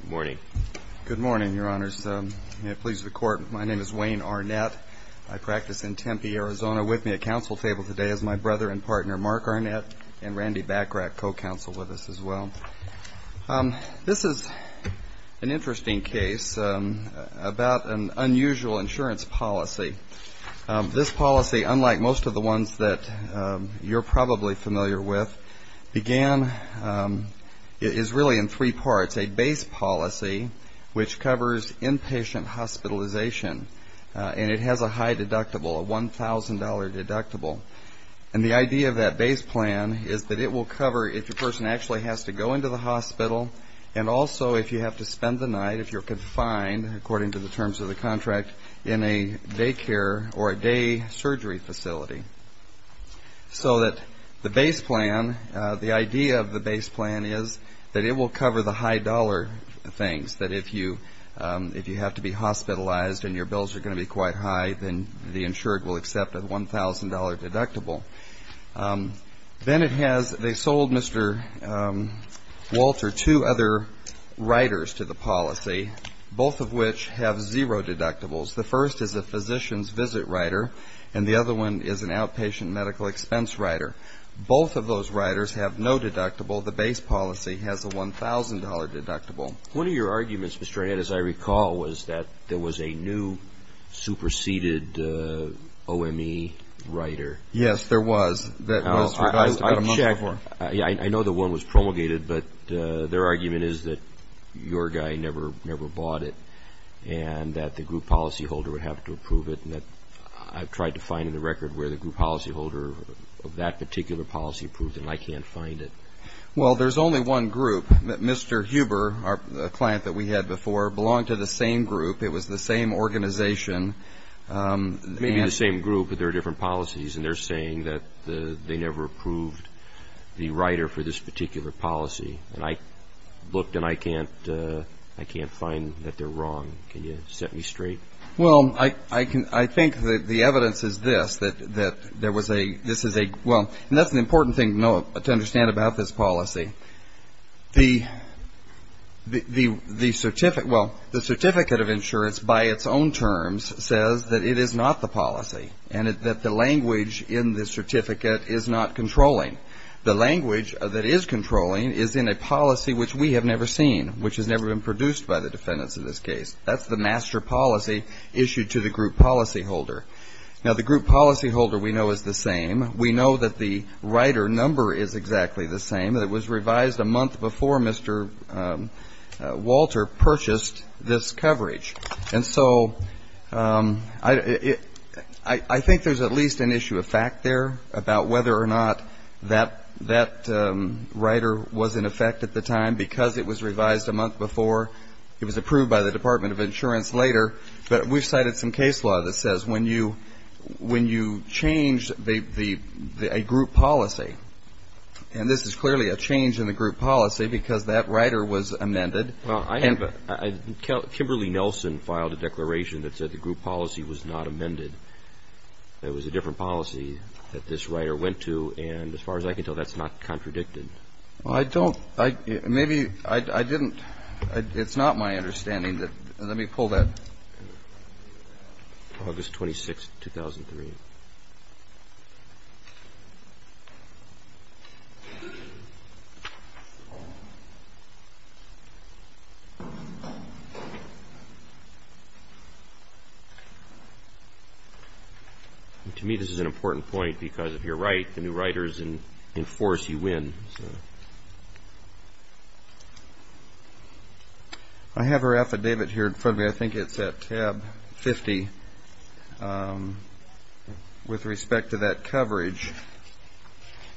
Good morning. Good morning, Your Honors. May it please the Court, my name is Wayne Arnett. I practice in Tempe, Arizona. With me at counsel table today is my brother and partner Mark Arnett and Randy Bachrach, co-counsel with us as well. This is an interesting case about an unusual insurance policy. This policy, unlike most of the ones that you're probably familiar with, began, is really in three parts. A base policy which covers inpatient hospitalization. And it has a high deductible, a $1,000 deductible. And the idea of that base plan is that it will cover if your person actually has to go into the hospital and also if you have to spend the night, if you're confined, according to the terms of the contract, in a daycare or a day surgery facility. So that the base plan, the idea of the base plan is that it will cover the high dollar things. That if you have to be hospitalized and your bills are going to be quite high, then the insured will accept a $1,000 deductible. Then it has, they sold Mr. Walter two other riders to the policy, both of which have zero deductibles. The first is a physician's visit rider and the other one is an outpatient medical expense rider. Both of those riders have no deductible. The base policy has a $1,000 deductible. One of your arguments, Mr. Arnett, as I recall, was that there was a new superseded OME rider. Yes, there was. I checked. I know the one was promulgated, but their argument is that your guy never bought it and that the group policyholder would have to approve it. I've tried to find a record where the group policyholder of that particular policy approved it and I can't find it. Well, there's only one group. Mr. Huber, a client that we had before, belonged to the same group. It was the same organization. Maybe the same group, but there are different policies and they're saying that they never approved the rider for this particular policy. I looked and I can't find that they're wrong. Can you set me straight? Well, I think that the evidence is this, that there was a, this is a, well, and that's an important thing to know, to understand about this policy. The certificate, well, the certificate of insurance by its own terms says that it is not the policy and that the language in this certificate is not controlling. The language that is controlling is in a policy which we have never seen, which has never been produced by the defendants in this case. That's the master policy issued to the group policyholder. Now, the group policyholder we know is the same. We know that the rider number is exactly the same. It was revised a month before Mr. Walter purchased this coverage. And so, I think there's at least an issue of fact there about whether or not that rider was in effect at the time because it was revised a month before. It was approved by the Department of Insurance later, but we've cited some case law that says when you change a group policy, and this is clearly a change in the group policy because that rider was amended. Well, I have a, I, Kimberly Nelson filed a declaration that said the group policy was not amended. It was a different policy that this rider went to and as far as I can tell, that's not contradicted. Well, I don't, I, maybe, I didn't, it's not my understanding that, let me pull that. August 26th, 2003. To me, this is an important point because if you're right, the new riders enforce, you win. I have her affidavit here in front of me. I think it's at tab 50 with respect to that coverage.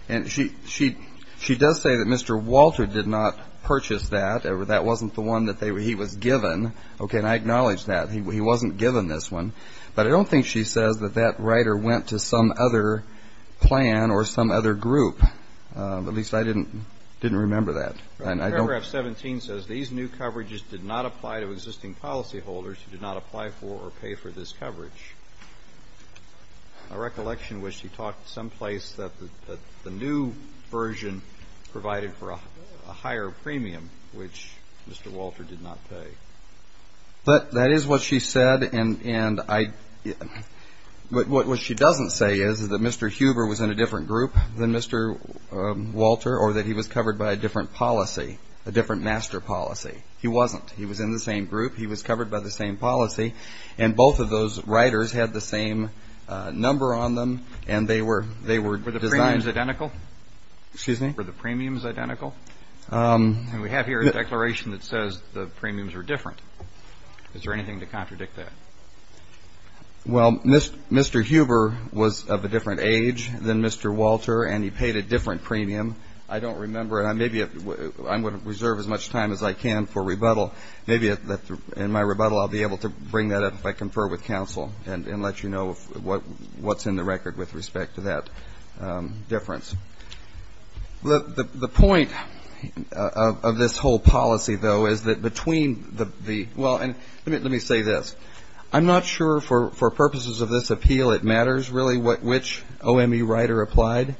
And she, she, she does say that Mr. Walter did not purchase that. That wasn't the one that they, he was given. Okay, and I acknowledge that. He wasn't given this one. But I don't think she says that that rider went to some other plan or some other group. At least I didn't, didn't remember that. Paragraph 17 says these new coverages did not apply to existing policyholders who did not apply for or pay for this coverage. My recollection was she talked someplace that the new version provided for a higher premium which Mr. Walter did not pay. But that is what she said. And I, what she doesn't say is that Mr. Huber was in a different group than Mr. Walter or that he was covered by a different policy, a different master policy. He wasn't. He was in the same group. He was covered by the same policy. And both of those riders had the same number on them. And they were, they were designed. Are the premiums identical? Excuse me? Are the premiums identical? And we have here a declaration that says the premiums are different. Is there anything to contradict that? Well, Mr. Huber was of a different age than Mr. Walter and he paid a different premium. I don't remember. And maybe I'm going to reserve as much time as I can for rebuttal. Maybe in my rebuttal I'll be able to bring that up if I confer with counsel and let you know what's in the record with respect to that. Difference. The point of this whole policy, though, is that between the, well, and let me say this. I'm not sure for purposes of this appeal it matters really which OME rider applied.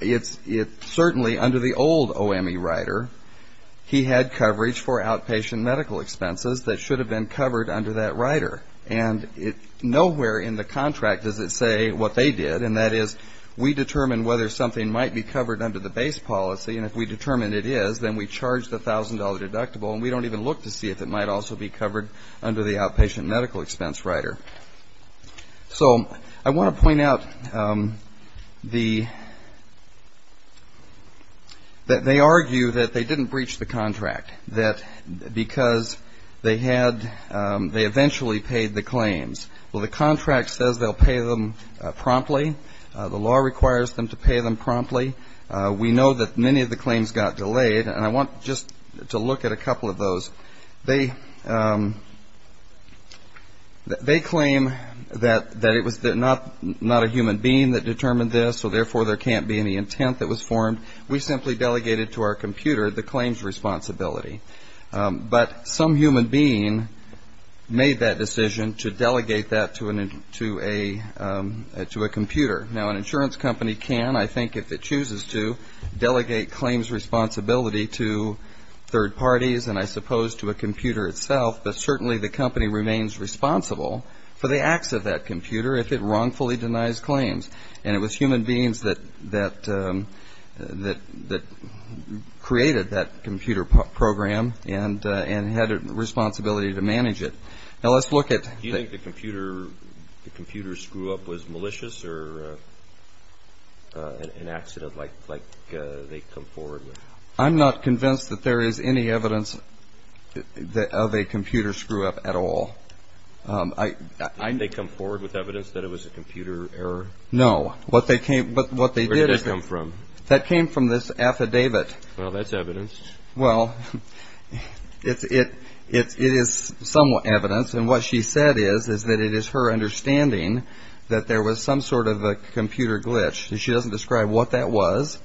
It's certainly under the old OME rider he had coverage for outpatient medical expenses that should have been covered under that rider. And nowhere in the contract does it say what they did. And that is we determine whether something might be covered under the base policy. And if we determine it is, then we charge the $1,000 deductible. And we don't even look to see if it might also be covered under the outpatient medical expense rider. So I want to point out the, that they argue that they didn't breach the contract. That because they had, they eventually paid the claims. Well, the contract says they'll pay them promptly. The law requires them to pay them promptly. We know that many of the claims got delayed. And I want just to look at a couple of those. They claim that it was not a human being that determined this, so therefore there can't be any intent that was formed. We simply delegated to our computer the claims responsibility. But some human being made that decision to delegate that to a computer. Now, an insurance company can, I think, if it chooses to, delegate claims responsibility to third parties. And I suppose to a computer itself. But certainly the company remains responsible for the acts of that computer if it wrongfully denies claims. And it was human beings that created that computer program and had a responsibility to manage it. Now, let's look at. Do you think the computer screw-up was malicious or an accident like they come forward with? I'm not convinced that there is any evidence of a computer screw-up at all. Did they come forward with evidence that it was a computer error? No. Where did that come from? That came from this affidavit. Well, that's evidence. Well, it is some evidence. And what she said is that it is her understanding that there was some sort of a computer glitch. And she doesn't describe what that was.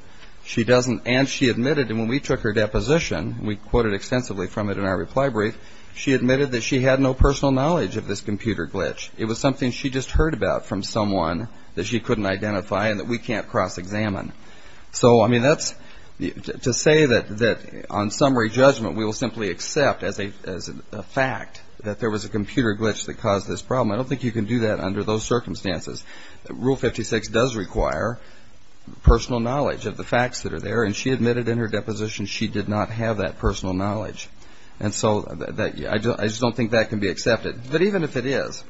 She doesn't. And she admitted, and when we took her deposition, we quoted extensively from it in our reply brief, she admitted that she had no personal knowledge of this computer glitch. It was something she just heard about from someone that she couldn't identify and that we can't cross-examine. So, I mean, that's to say that on summary judgment we will simply accept as a fact that there was a computer glitch that caused this problem. I don't think you can do that under those circumstances. Rule 56 does require personal knowledge of the facts that are there, and she admitted in her deposition she did not have that personal knowledge. And so I just don't think that can be accepted. But even if it is,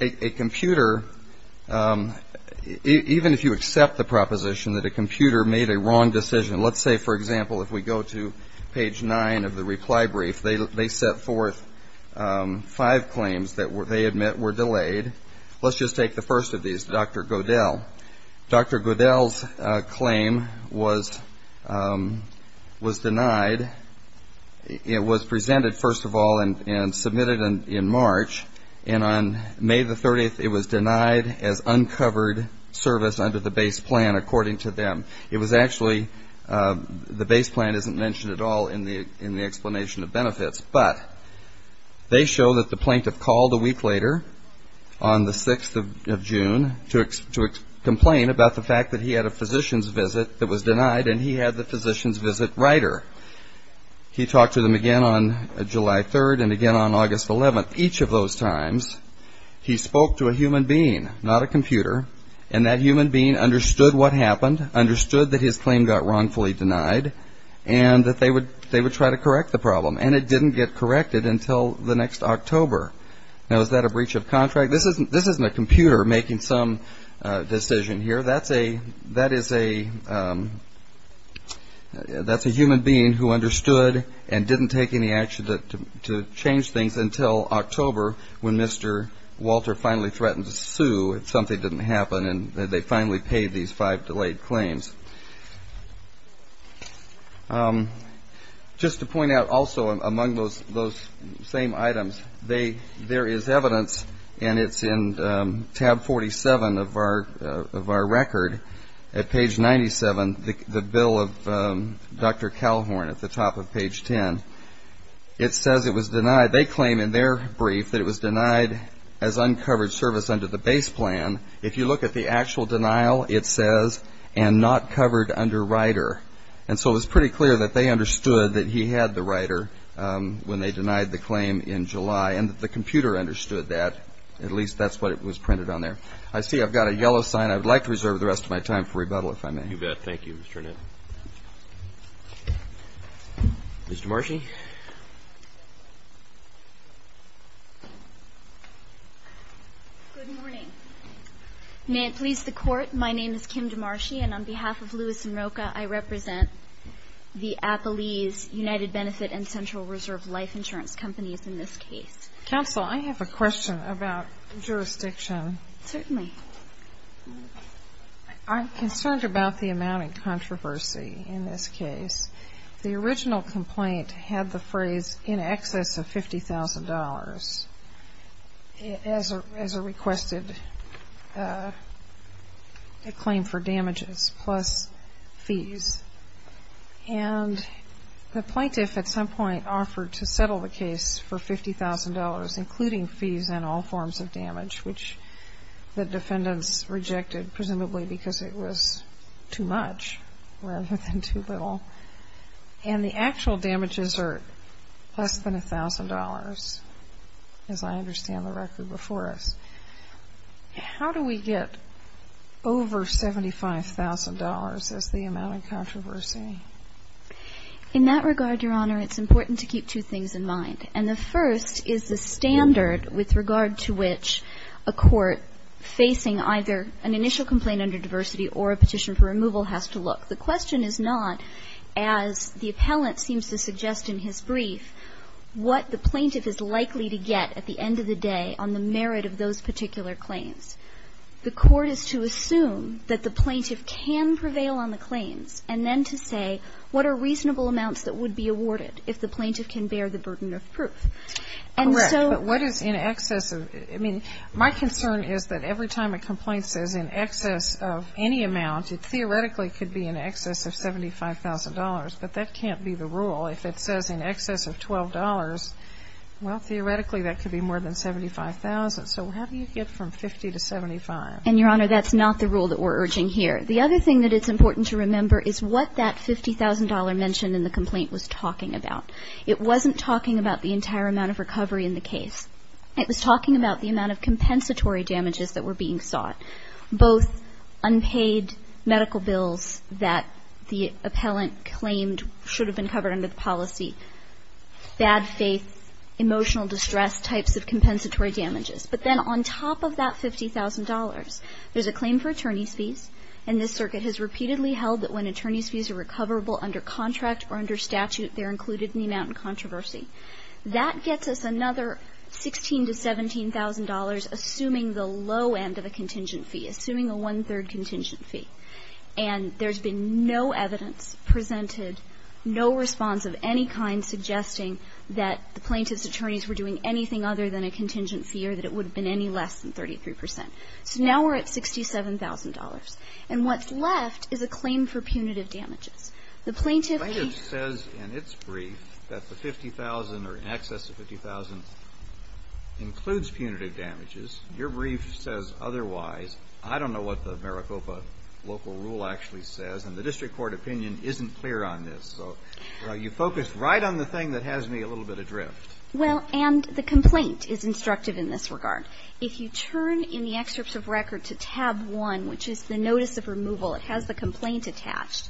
a computer, even if you accept the proposition that a computer made a wrong decision, let's say, for example, if we go to page 9 of the reply brief, they set forth five claims that they admit were delayed. Let's just take the first of these, Dr. Godel. Dr. Godel's claim was denied. It was presented, first of all, and submitted in March. And on May the 30th, it was denied as uncovered service under the base plan, according to them. It was actually the base plan isn't mentioned at all in the explanation of benefits. But they show that the plaintiff called a week later, on the 6th of June, to complain about the fact that he had a physician's visit that was denied, and he had the physician's visit writer. He talked to them again on July 3rd and again on August 11th. Each of those times, he spoke to a human being, not a computer, and that human being understood what happened, understood that his claim got wrongfully denied, and that they would try to correct the problem. And it didn't get corrected until the next October. Now, is that a breach of contract? This isn't a computer making some decision here. That's a human being who understood and didn't take any action to change things until October, when Mr. Walter finally threatened to sue if something didn't happen, and they finally paid these five delayed claims. Just to point out also among those same items, there is evidence, and it's in tab 47 of our record, at page 97, the bill of Dr. Calhorn at the top of page 10. It says it was denied. They claim in their brief that it was denied as uncovered service under the base plan. If you look at the actual denial, it says, and not covered under rider. And so it was pretty clear that they understood that he had the rider when they denied the claim in July, and that the computer understood that. At least that's what was printed on there. I see I've got a yellow sign. I would like to reserve the rest of my time for rebuttal, if I may. You bet. Thank you, Mr. Nett. Ms. DeMarchi. Good morning. May it please the Court, my name is Kim DeMarchi, and on behalf of Lewis & Rocha, I represent the Appalese United Benefit and Central Reserve Life Insurance Companies in this case. Counsel, I have a question about jurisdiction. Certainly. I'm concerned about the amount of controversy in this case. The original complaint had the phrase in excess of $50,000 as a requested claim for damages plus fees. And the plaintiff at some point offered to settle the case for $50,000, including fees and all forms of damage, which the defendants rejected, presumably because it was too much rather than too little. And the actual damages are less than $1,000, as I understand the record before us. How do we get over $75,000 as the amount of controversy? In that regard, Your Honor, it's important to keep two things in mind. And the first is the standard with regard to which a court facing either an initial complaint under diversity or a petition for removal has to look. The question is not, as the appellant seems to suggest in his brief, what the plaintiff is likely to get at the end of the day on the merit of those particular claims. The court is to assume that the plaintiff can prevail on the claims and then to say what are reasonable amounts that would be awarded if the plaintiff can bear the burden of proof. And so ---- Correct. But what is in excess of ---- I mean, my concern is that every time a complaint says in excess of any amount, it theoretically could be in excess of $75,000. But that can't be the rule. If it says in excess of $12, well, theoretically that could be more than $75,000. So how do you get from $50,000 to $75,000? And, Your Honor, that's not the rule that we're urging here. The other thing that it's important to remember is what that $50,000 mention in the complaint was talking about. It wasn't talking about the entire amount of recovery in the case. It was talking about the amount of compensatory damages that were being sought, both unpaid medical bills that the appellant claimed should have been covered under the policy, bad faith, emotional distress types of compensatory damages. But then on top of that $50,000, there's a claim for attorneys' fees. And this Circuit has repeatedly held that when attorneys' fees are recoverable under contract or under statute, they're included in the amount in controversy. That gets us another $16,000 to $17,000, assuming the low end of a contingent fee, assuming a one-third contingent fee. And there's been no evidence presented, no response of any kind suggesting that the plaintiff's attorneys were doing anything other than a contingent fee or that it would have been any less than 33 percent. So now we're at $67,000. And what's left is a claim for punitive damages. The plaintiff needs to be ---- The plaintiff says in its brief that the $50,000 or in excess of $50,000 includes punitive damages. Your brief says otherwise. I don't know what the Maricopa local rule actually says, and the district court opinion isn't clear on this. So you focus right on the thing that has me a little bit adrift. Well, and the complaint is instructive in this regard. If you turn in the excerpt of record to tab 1, which is the notice of removal, it has the complaint attached.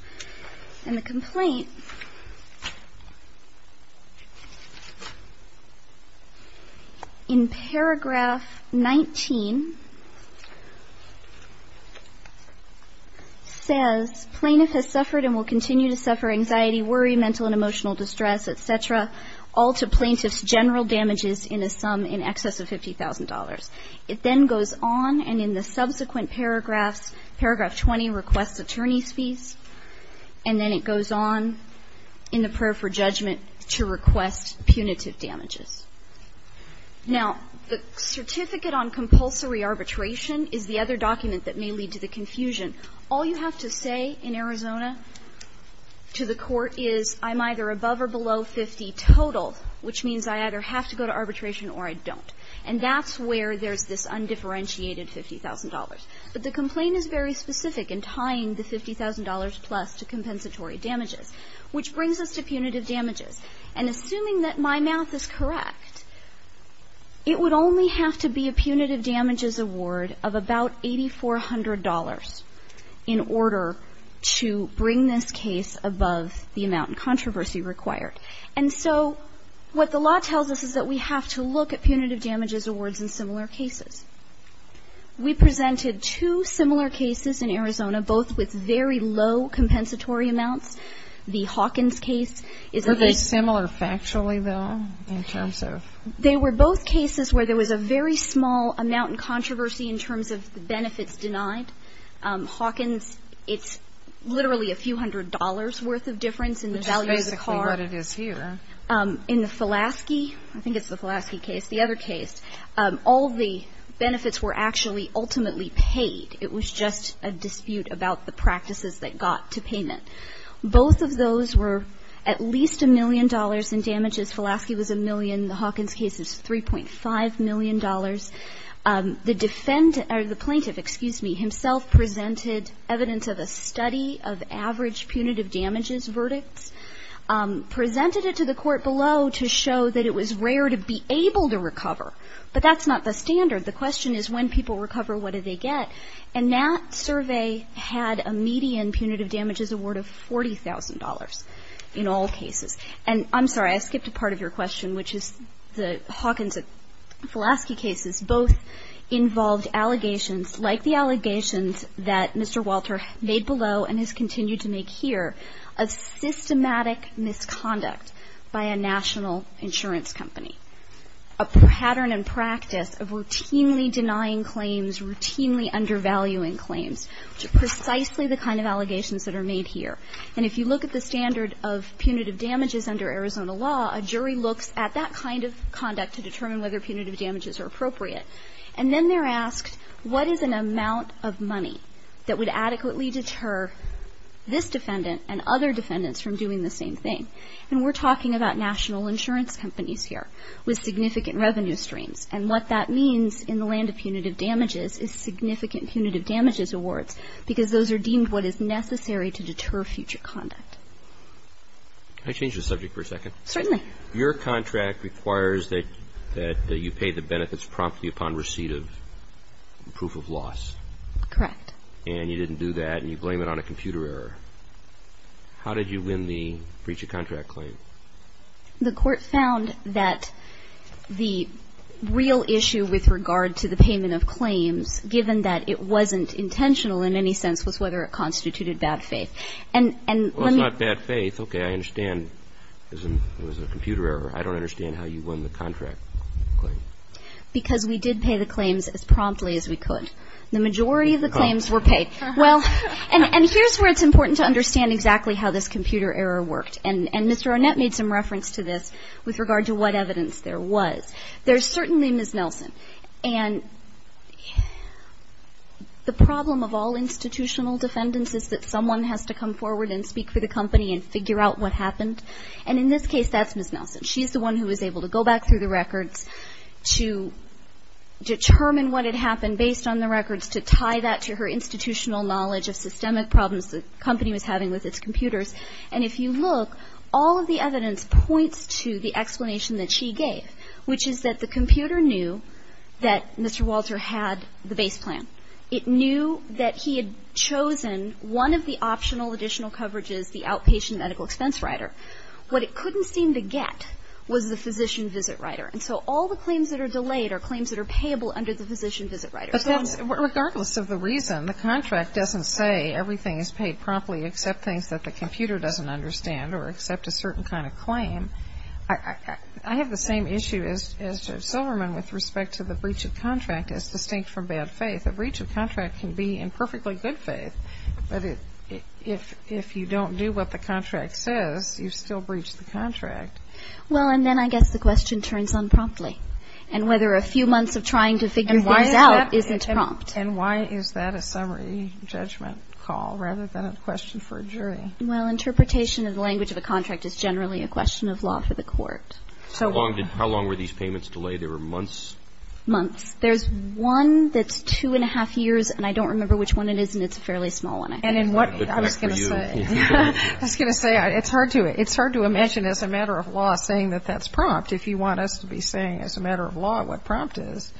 And the complaint in paragraph 19 says plaintiff has suffered and will continue to suffer anxiety, worry, mental and emotional distress, et cetera, all to plaintiff's general damages in a sum in excess of $50,000. It then goes on and in the subsequent paragraphs, paragraph 20 requests attorney's fees, and then it goes on in the prayer for judgment to request punitive damages. Now, the certificate on compulsory arbitration is the other document that may lead to the confusion. All you have to say in Arizona to the court is I'm either above or below 50 total, which means I either have to go to arbitration or I don't. And that's where there's this undifferentiated $50,000. But the complaint is very specific in tying the $50,000 plus to compensatory damages, which brings us to punitive damages. And assuming that my math is correct, it would only have to be a punitive damages award of about $8,400 in order to bring this case above the amount in controversy required. And so what the law tells us is that we have to look at punitive damages awards in similar cases. We presented two similar cases in Arizona, both with very low compensatory amounts. The Hawkins case is a very ---- Are they similar factually, though, in terms of ---- They were both cases where there was a very small amount in controversy in terms of the benefits denied. Hawkins, it's literally a few hundred dollars' worth of difference in the value of the car. But it is here. In the Fulaski, I think it's the Fulaski case, the other case, all the benefits were actually ultimately paid. It was just a dispute about the practices that got to payment. Both of those were at least a million dollars in damages. Fulaski was a million. The Hawkins case is $3.5 million. The defendant or the plaintiff, excuse me, himself presented evidence of a study of average punitive damages verdicts. Presented it to the court below to show that it was rare to be able to recover. But that's not the standard. The question is when people recover, what do they get? And that survey had a median punitive damages award of $40,000 in all cases. And I'm sorry, I skipped a part of your question, which is the Hawkins-Fulaski cases both involved allegations like the allegations that Mr. Walter made below and has continued to make here of systematic misconduct by a national insurance company. A pattern and practice of routinely denying claims, routinely undervaluing claims, which are precisely the kind of allegations that are made here. And if you look at the standard of punitive damages under Arizona law, a jury looks at that kind of conduct to determine whether punitive damages are appropriate. And then they're asked what is an amount of money that would adequately deter this defendant and other defendants from doing the same thing. And we're talking about national insurance companies here with significant revenue streams. And what that means in the land of punitive damages is significant punitive damages awards because those are deemed what is necessary to deter future conduct. Can I change the subject for a second? Certainly. Your contract requires that you pay the benefits promptly upon receipt of proof of loss. Correct. And you didn't do that and you blame it on a computer error. How did you win the breach of contract claim? The court found that the real issue with regard to the payment of claims, given that it wasn't intentional in any sense, was whether it constituted bad faith. And let me ---- It was a computer error. I don't understand how you won the contract claim. Because we did pay the claims as promptly as we could. The majority of the claims were paid. Well, and here's where it's important to understand exactly how this computer error worked. And Mr. Arnett made some reference to this with regard to what evidence there was. There's certainly Ms. Nelson. And the problem of all institutional defendants is that someone has to come forward and speak for the company and figure out what happened. And in this case, that's Ms. Nelson. She's the one who was able to go back through the records to determine what had happened based on the records to tie that to her institutional knowledge of systemic problems the company was having with its computers. And if you look, all of the evidence points to the explanation that she gave, which is that the computer knew that Mr. Walter had the base plan. It knew that he had chosen one of the optional additional coverages, the outpatient medical expense rider. What it couldn't seem to get was the physician visit rider. And so all the claims that are delayed are claims that are payable under the physician visit rider. Regardless of the reason, the contract doesn't say everything is paid promptly except things that the computer doesn't understand or accept a certain kind of claim. I have the same issue as Judge Silverman with respect to the breach of contract as distinct from bad faith. The breach of contract can be in perfectly good faith, but if you don't do what the contract says, you still breach the contract. Well, and then I guess the question turns on promptly. And whether a few months of trying to figure things out isn't prompt. And why is that a summary judgment call rather than a question for a jury? Well, interpretation of the language of a contract is generally a question of law for the court. So how long were these payments delayed? They were months? Months. There's one that's two-and-a-half years, and I don't remember which one it is, and it's a fairly small one. And I was going to say, it's hard to imagine as a matter of law saying that that's prompt if you want us to be saying as a matter of law what prompt is.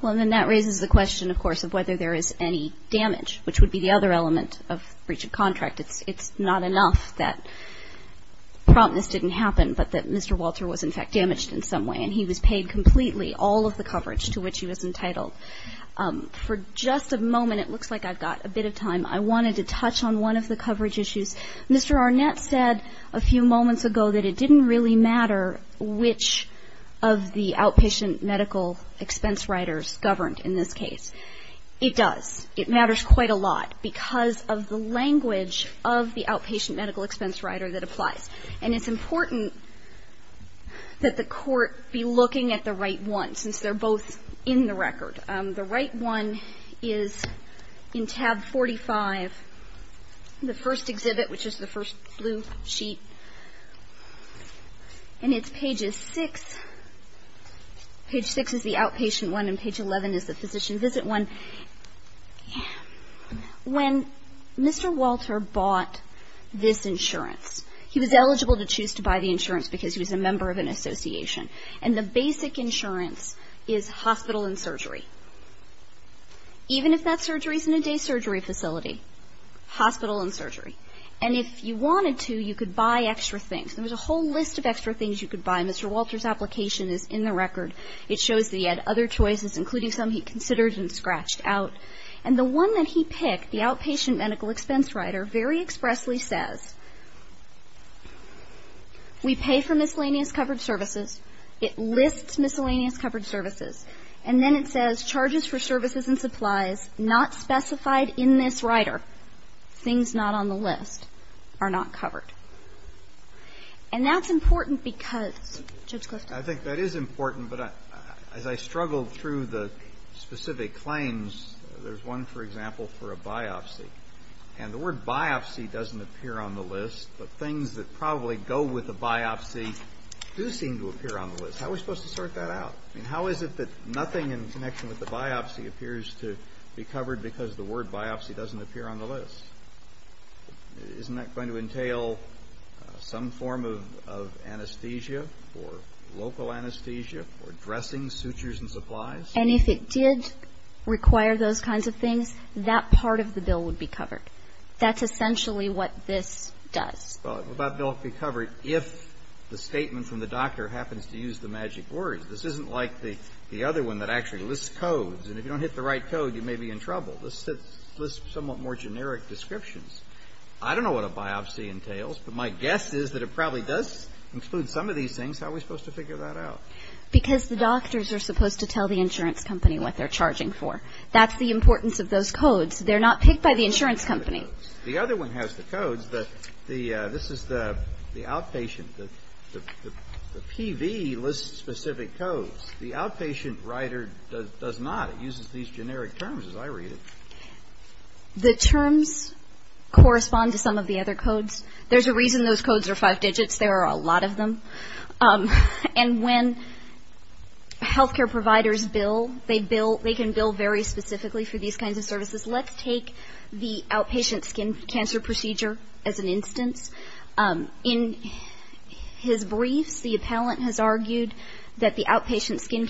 Well, and then that raises the question, of course, of whether there is any damage, which would be the other element of breach of contract. It's not enough that promptness didn't happen but that Mr. Walter was, in fact, damaged in some way. And he was paid completely all of the coverage to which he was entitled. For just a moment, it looks like I've got a bit of time. I wanted to touch on one of the coverage issues. Mr. Arnett said a few moments ago that it didn't really matter which of the outpatient medical expense riders governed in this case. It does. It matters quite a lot because of the language of the outpatient medical expense rider that applies. And it's important that the court be looking at the right one since they're both in the record. The right one is in tab 45, the first exhibit, which is the first blue sheet. And it's pages 6. Page 6 is the outpatient one and page 11 is the physician visit one. When Mr. Walter bought this insurance, he was eligible to choose to buy the insurance because he was a member of an association. And the basic insurance is hospital and surgery, even if that surgery is in a day surgery facility, hospital and surgery. And if you wanted to, you could buy extra things. There was a whole list of extra things you could buy. Mr. Walter's application is in the record. It shows that he had other choices, including some he considered and scratched out. And the one that he picked, the outpatient medical expense rider, very expressly says we pay for miscellaneous covered services. It lists miscellaneous covered services. And then it says charges for services and supplies not specified in this rider, things not on the list, are not covered. And that's important because, Judge Clifton? I think that is important, but as I struggled through the specific claims, there's one, for example, for a biopsy. And the word biopsy doesn't appear on the list, but things that probably go with a biopsy do seem to appear on the list. How are we supposed to sort that out? I mean, how is it that nothing in connection with the biopsy appears to be covered because the word biopsy doesn't appear on the list? Isn't that going to entail some form of anesthesia or local anesthesia or dressing, sutures and supplies? And if it did require those kinds of things, that part of the bill would be covered. That's essentially what this does. Well, that bill would be covered if the statement from the doctor happens to use the magic word. This isn't like the other one that actually lists codes. And if you don't hit the right code, you may be in trouble. This lists somewhat more generic descriptions. I don't know what a biopsy entails, but my guess is that it probably does include some of these things. How are we supposed to figure that out? Because the doctors are supposed to tell the insurance company what they're charging for. That's the importance of those codes. They're not picked by the insurance company. The other one has the codes. This is the outpatient. The PV lists specific codes. The outpatient rider does not. It uses these generic terms as I read it. The terms correspond to some of the other codes. There's a reason those codes are five digits. There are a lot of them. And when health care providers bill, they can bill very specifically for these kinds of services. Let's take the outpatient skin cancer procedure as an instance. In his briefs, the appellant has argued that the outpatient skin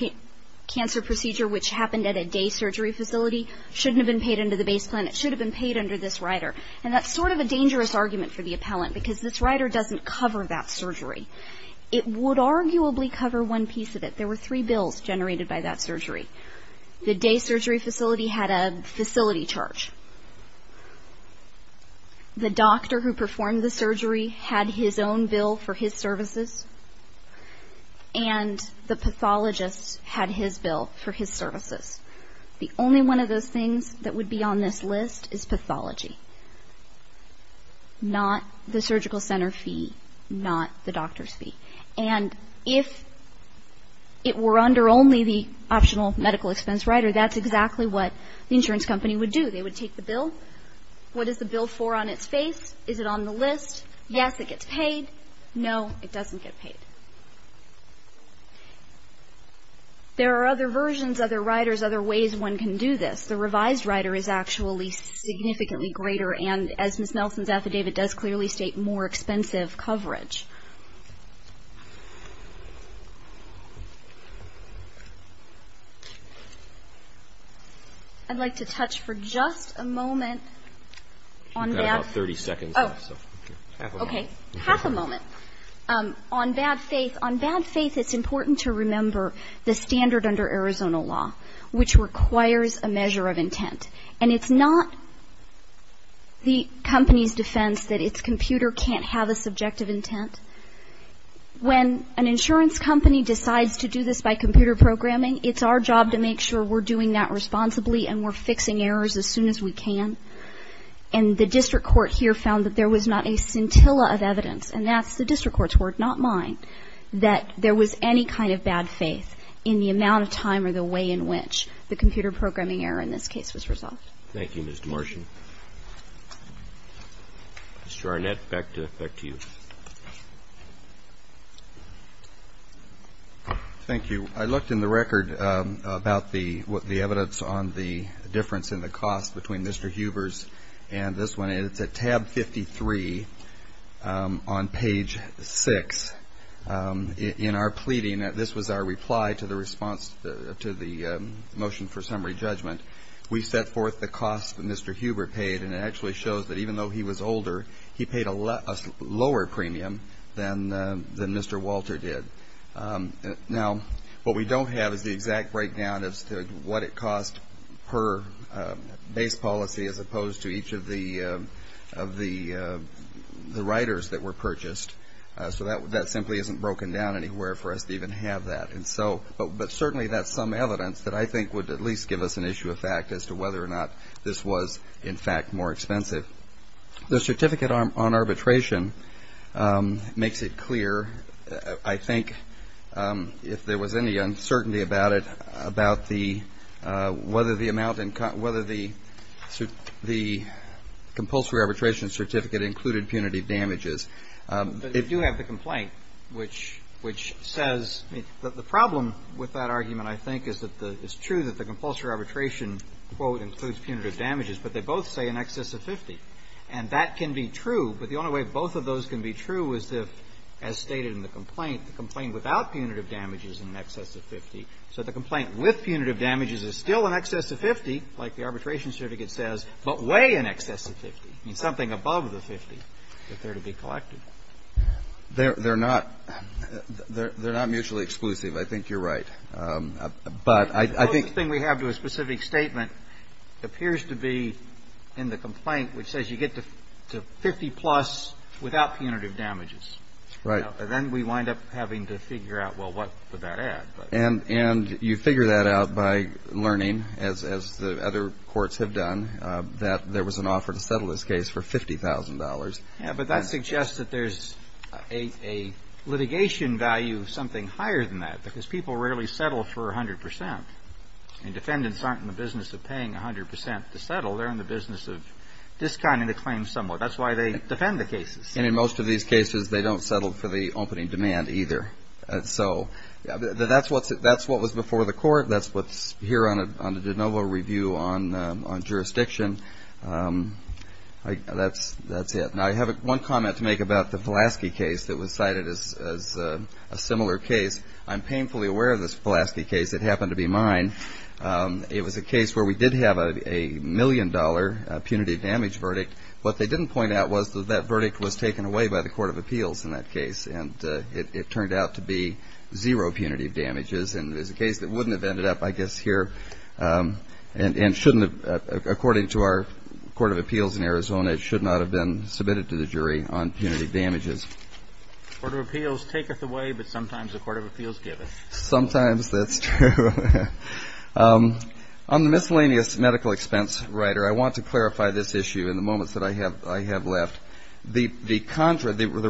cancer procedure, which happened at a day surgery facility, shouldn't have been paid under the base plan. It should have been paid under this rider. And that's sort of a dangerous argument for the appellant because this rider doesn't cover that surgery. It would arguably cover one piece of it. There were three bills generated by that surgery. The day surgery facility had a facility charge. The doctor who performed the surgery had his own bill for his services. And the pathologist had his bill for his services. The only one of those things that would be on this list is pathology, not the surgical center fee, not the doctor's fee. And if it were under only the optional medical expense rider, that's exactly what the insurance company would do. They would take the bill. What is the bill for on its face? Is it on the list? Yes, it gets paid. No, it doesn't get paid. There are other versions, other riders, other ways one can do this. The revised rider is actually significantly greater, and as Ms. Nelson's affidavit does clearly state, more expensive coverage. I'd like to touch for just a moment on that. Okay. Half a moment. On bad faith, it's important to remember the standard under Arizona law, which requires a measure of intent. And it's not the company's defense that its computer can't have a subjective intent. When an insurance company decides to do this by computer programming, it's our job to make sure we're doing that responsibly and we're fixing errors as soon as we can. And the district court here found that there was not a scintilla of evidence, and that's the district court's word, not mine, that there was any kind of bad faith in the amount of time or the way in which the computer programming error in this case was resolved. Thank you, Ms. Demartian. Mr. Arnett, back to you. Thank you. I looked in the record about the evidence on the difference in the cost between Mr. Huber's and this one, and it's at tab 53 on page 6. In our pleading, this was our reply to the response to the motion for summary judgment, we set forth the cost that Mr. Huber paid, and it actually shows that even though he was older, he paid a lower premium than Mr. Walter did. Now, what we don't have is the exact breakdown as to what it cost per base policy as opposed to each of the riders that were purchased, so that simply isn't broken down anywhere for us to even have that. But certainly that's some evidence that I think would at least give us an issue of fact as to whether or not this was, in fact, more expensive. The certificate on arbitration makes it clear, I think, if there was any uncertainty about it, about whether the compulsory arbitration certificate included punitive damages. But you do have the complaint, which says the problem with that argument, I think, is that it's true that the compulsory arbitration, quote, includes punitive damages, but they both say in excess of 50. And that can be true, but the only way both of those can be true is if, as stated in the complaint, the complaint without punitive damages is in excess of 50. So the complaint with punitive damages is still in excess of 50, like the arbitration certificate says, but way in excess of 50, something above the 50 if they're to be collected. They're not mutually exclusive. I think you're right. The closest thing we have to a specific statement appears to be in the complaint, which says you get to 50-plus without punitive damages. Right. And then we wind up having to figure out, well, what would that add? And you figure that out by learning, as the other courts have done, that there was an offer to settle this case for $50,000. Yeah, but that suggests that there's a litigation value of something higher than that, because people rarely settle for 100%. And defendants aren't in the business of paying 100% to settle. They're in the business of discounting the claim somewhat. That's why they defend the cases. And in most of these cases, they don't settle for the opening demand either. So that's what was before the court. That's what's here on the de novo review on jurisdiction. That's it. Now, I have one comment to make about the Pulaski case that was cited as a similar case. I'm painfully aware of this Pulaski case. It happened to be mine. It was a case where we did have a million-dollar punitive damage verdict. What they didn't point out was that that verdict was taken away by the court of appeals in that case, and it turned out to be zero punitive damages. And it was a case that wouldn't have ended up, I guess, here and according to our court of appeals in Arizona, it should not have been submitted to the jury on punitive damages. Court of appeals taketh away, but sometimes the court of appeals giveth. Sometimes, that's true. On the miscellaneous medical expense, Ryder, I want to clarify this issue in the moments that I have left. The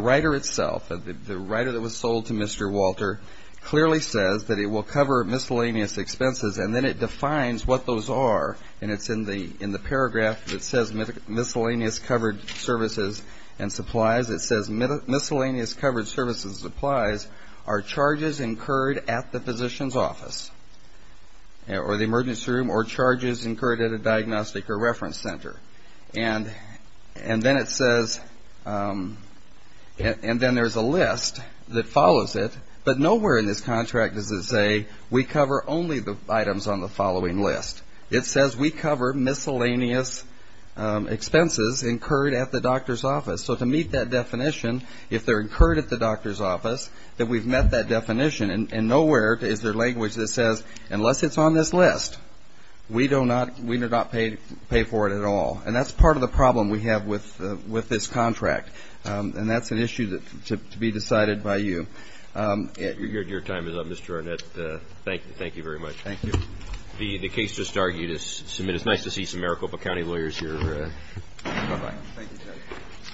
writer itself, the writer that was sold to Mr. Walter, clearly says that it will cover miscellaneous expenses, and then it defines what those are, and it's in the paragraph that says miscellaneous covered services and supplies. It says miscellaneous covered services and supplies are charges incurred at the physician's office or the emergency room or charges incurred at a diagnostic or reference center. And then it says, and then there's a list that follows it, but nowhere in this contract does it say we cover only the items on the following list. It says we cover miscellaneous expenses incurred at the doctor's office. So to meet that definition, if they're incurred at the doctor's office, then we've met that definition, and nowhere is there language that says, unless it's on this list, we do not pay for it at all. And that's part of the problem we have with this contract, and that's an issue to be decided by you. Your time is up, Mr. Arnett. Thank you very much. Thank you. The case just argued is submitted. It's nice to see some Maricopa County lawyers here. Bye-bye. Thank you, Judge.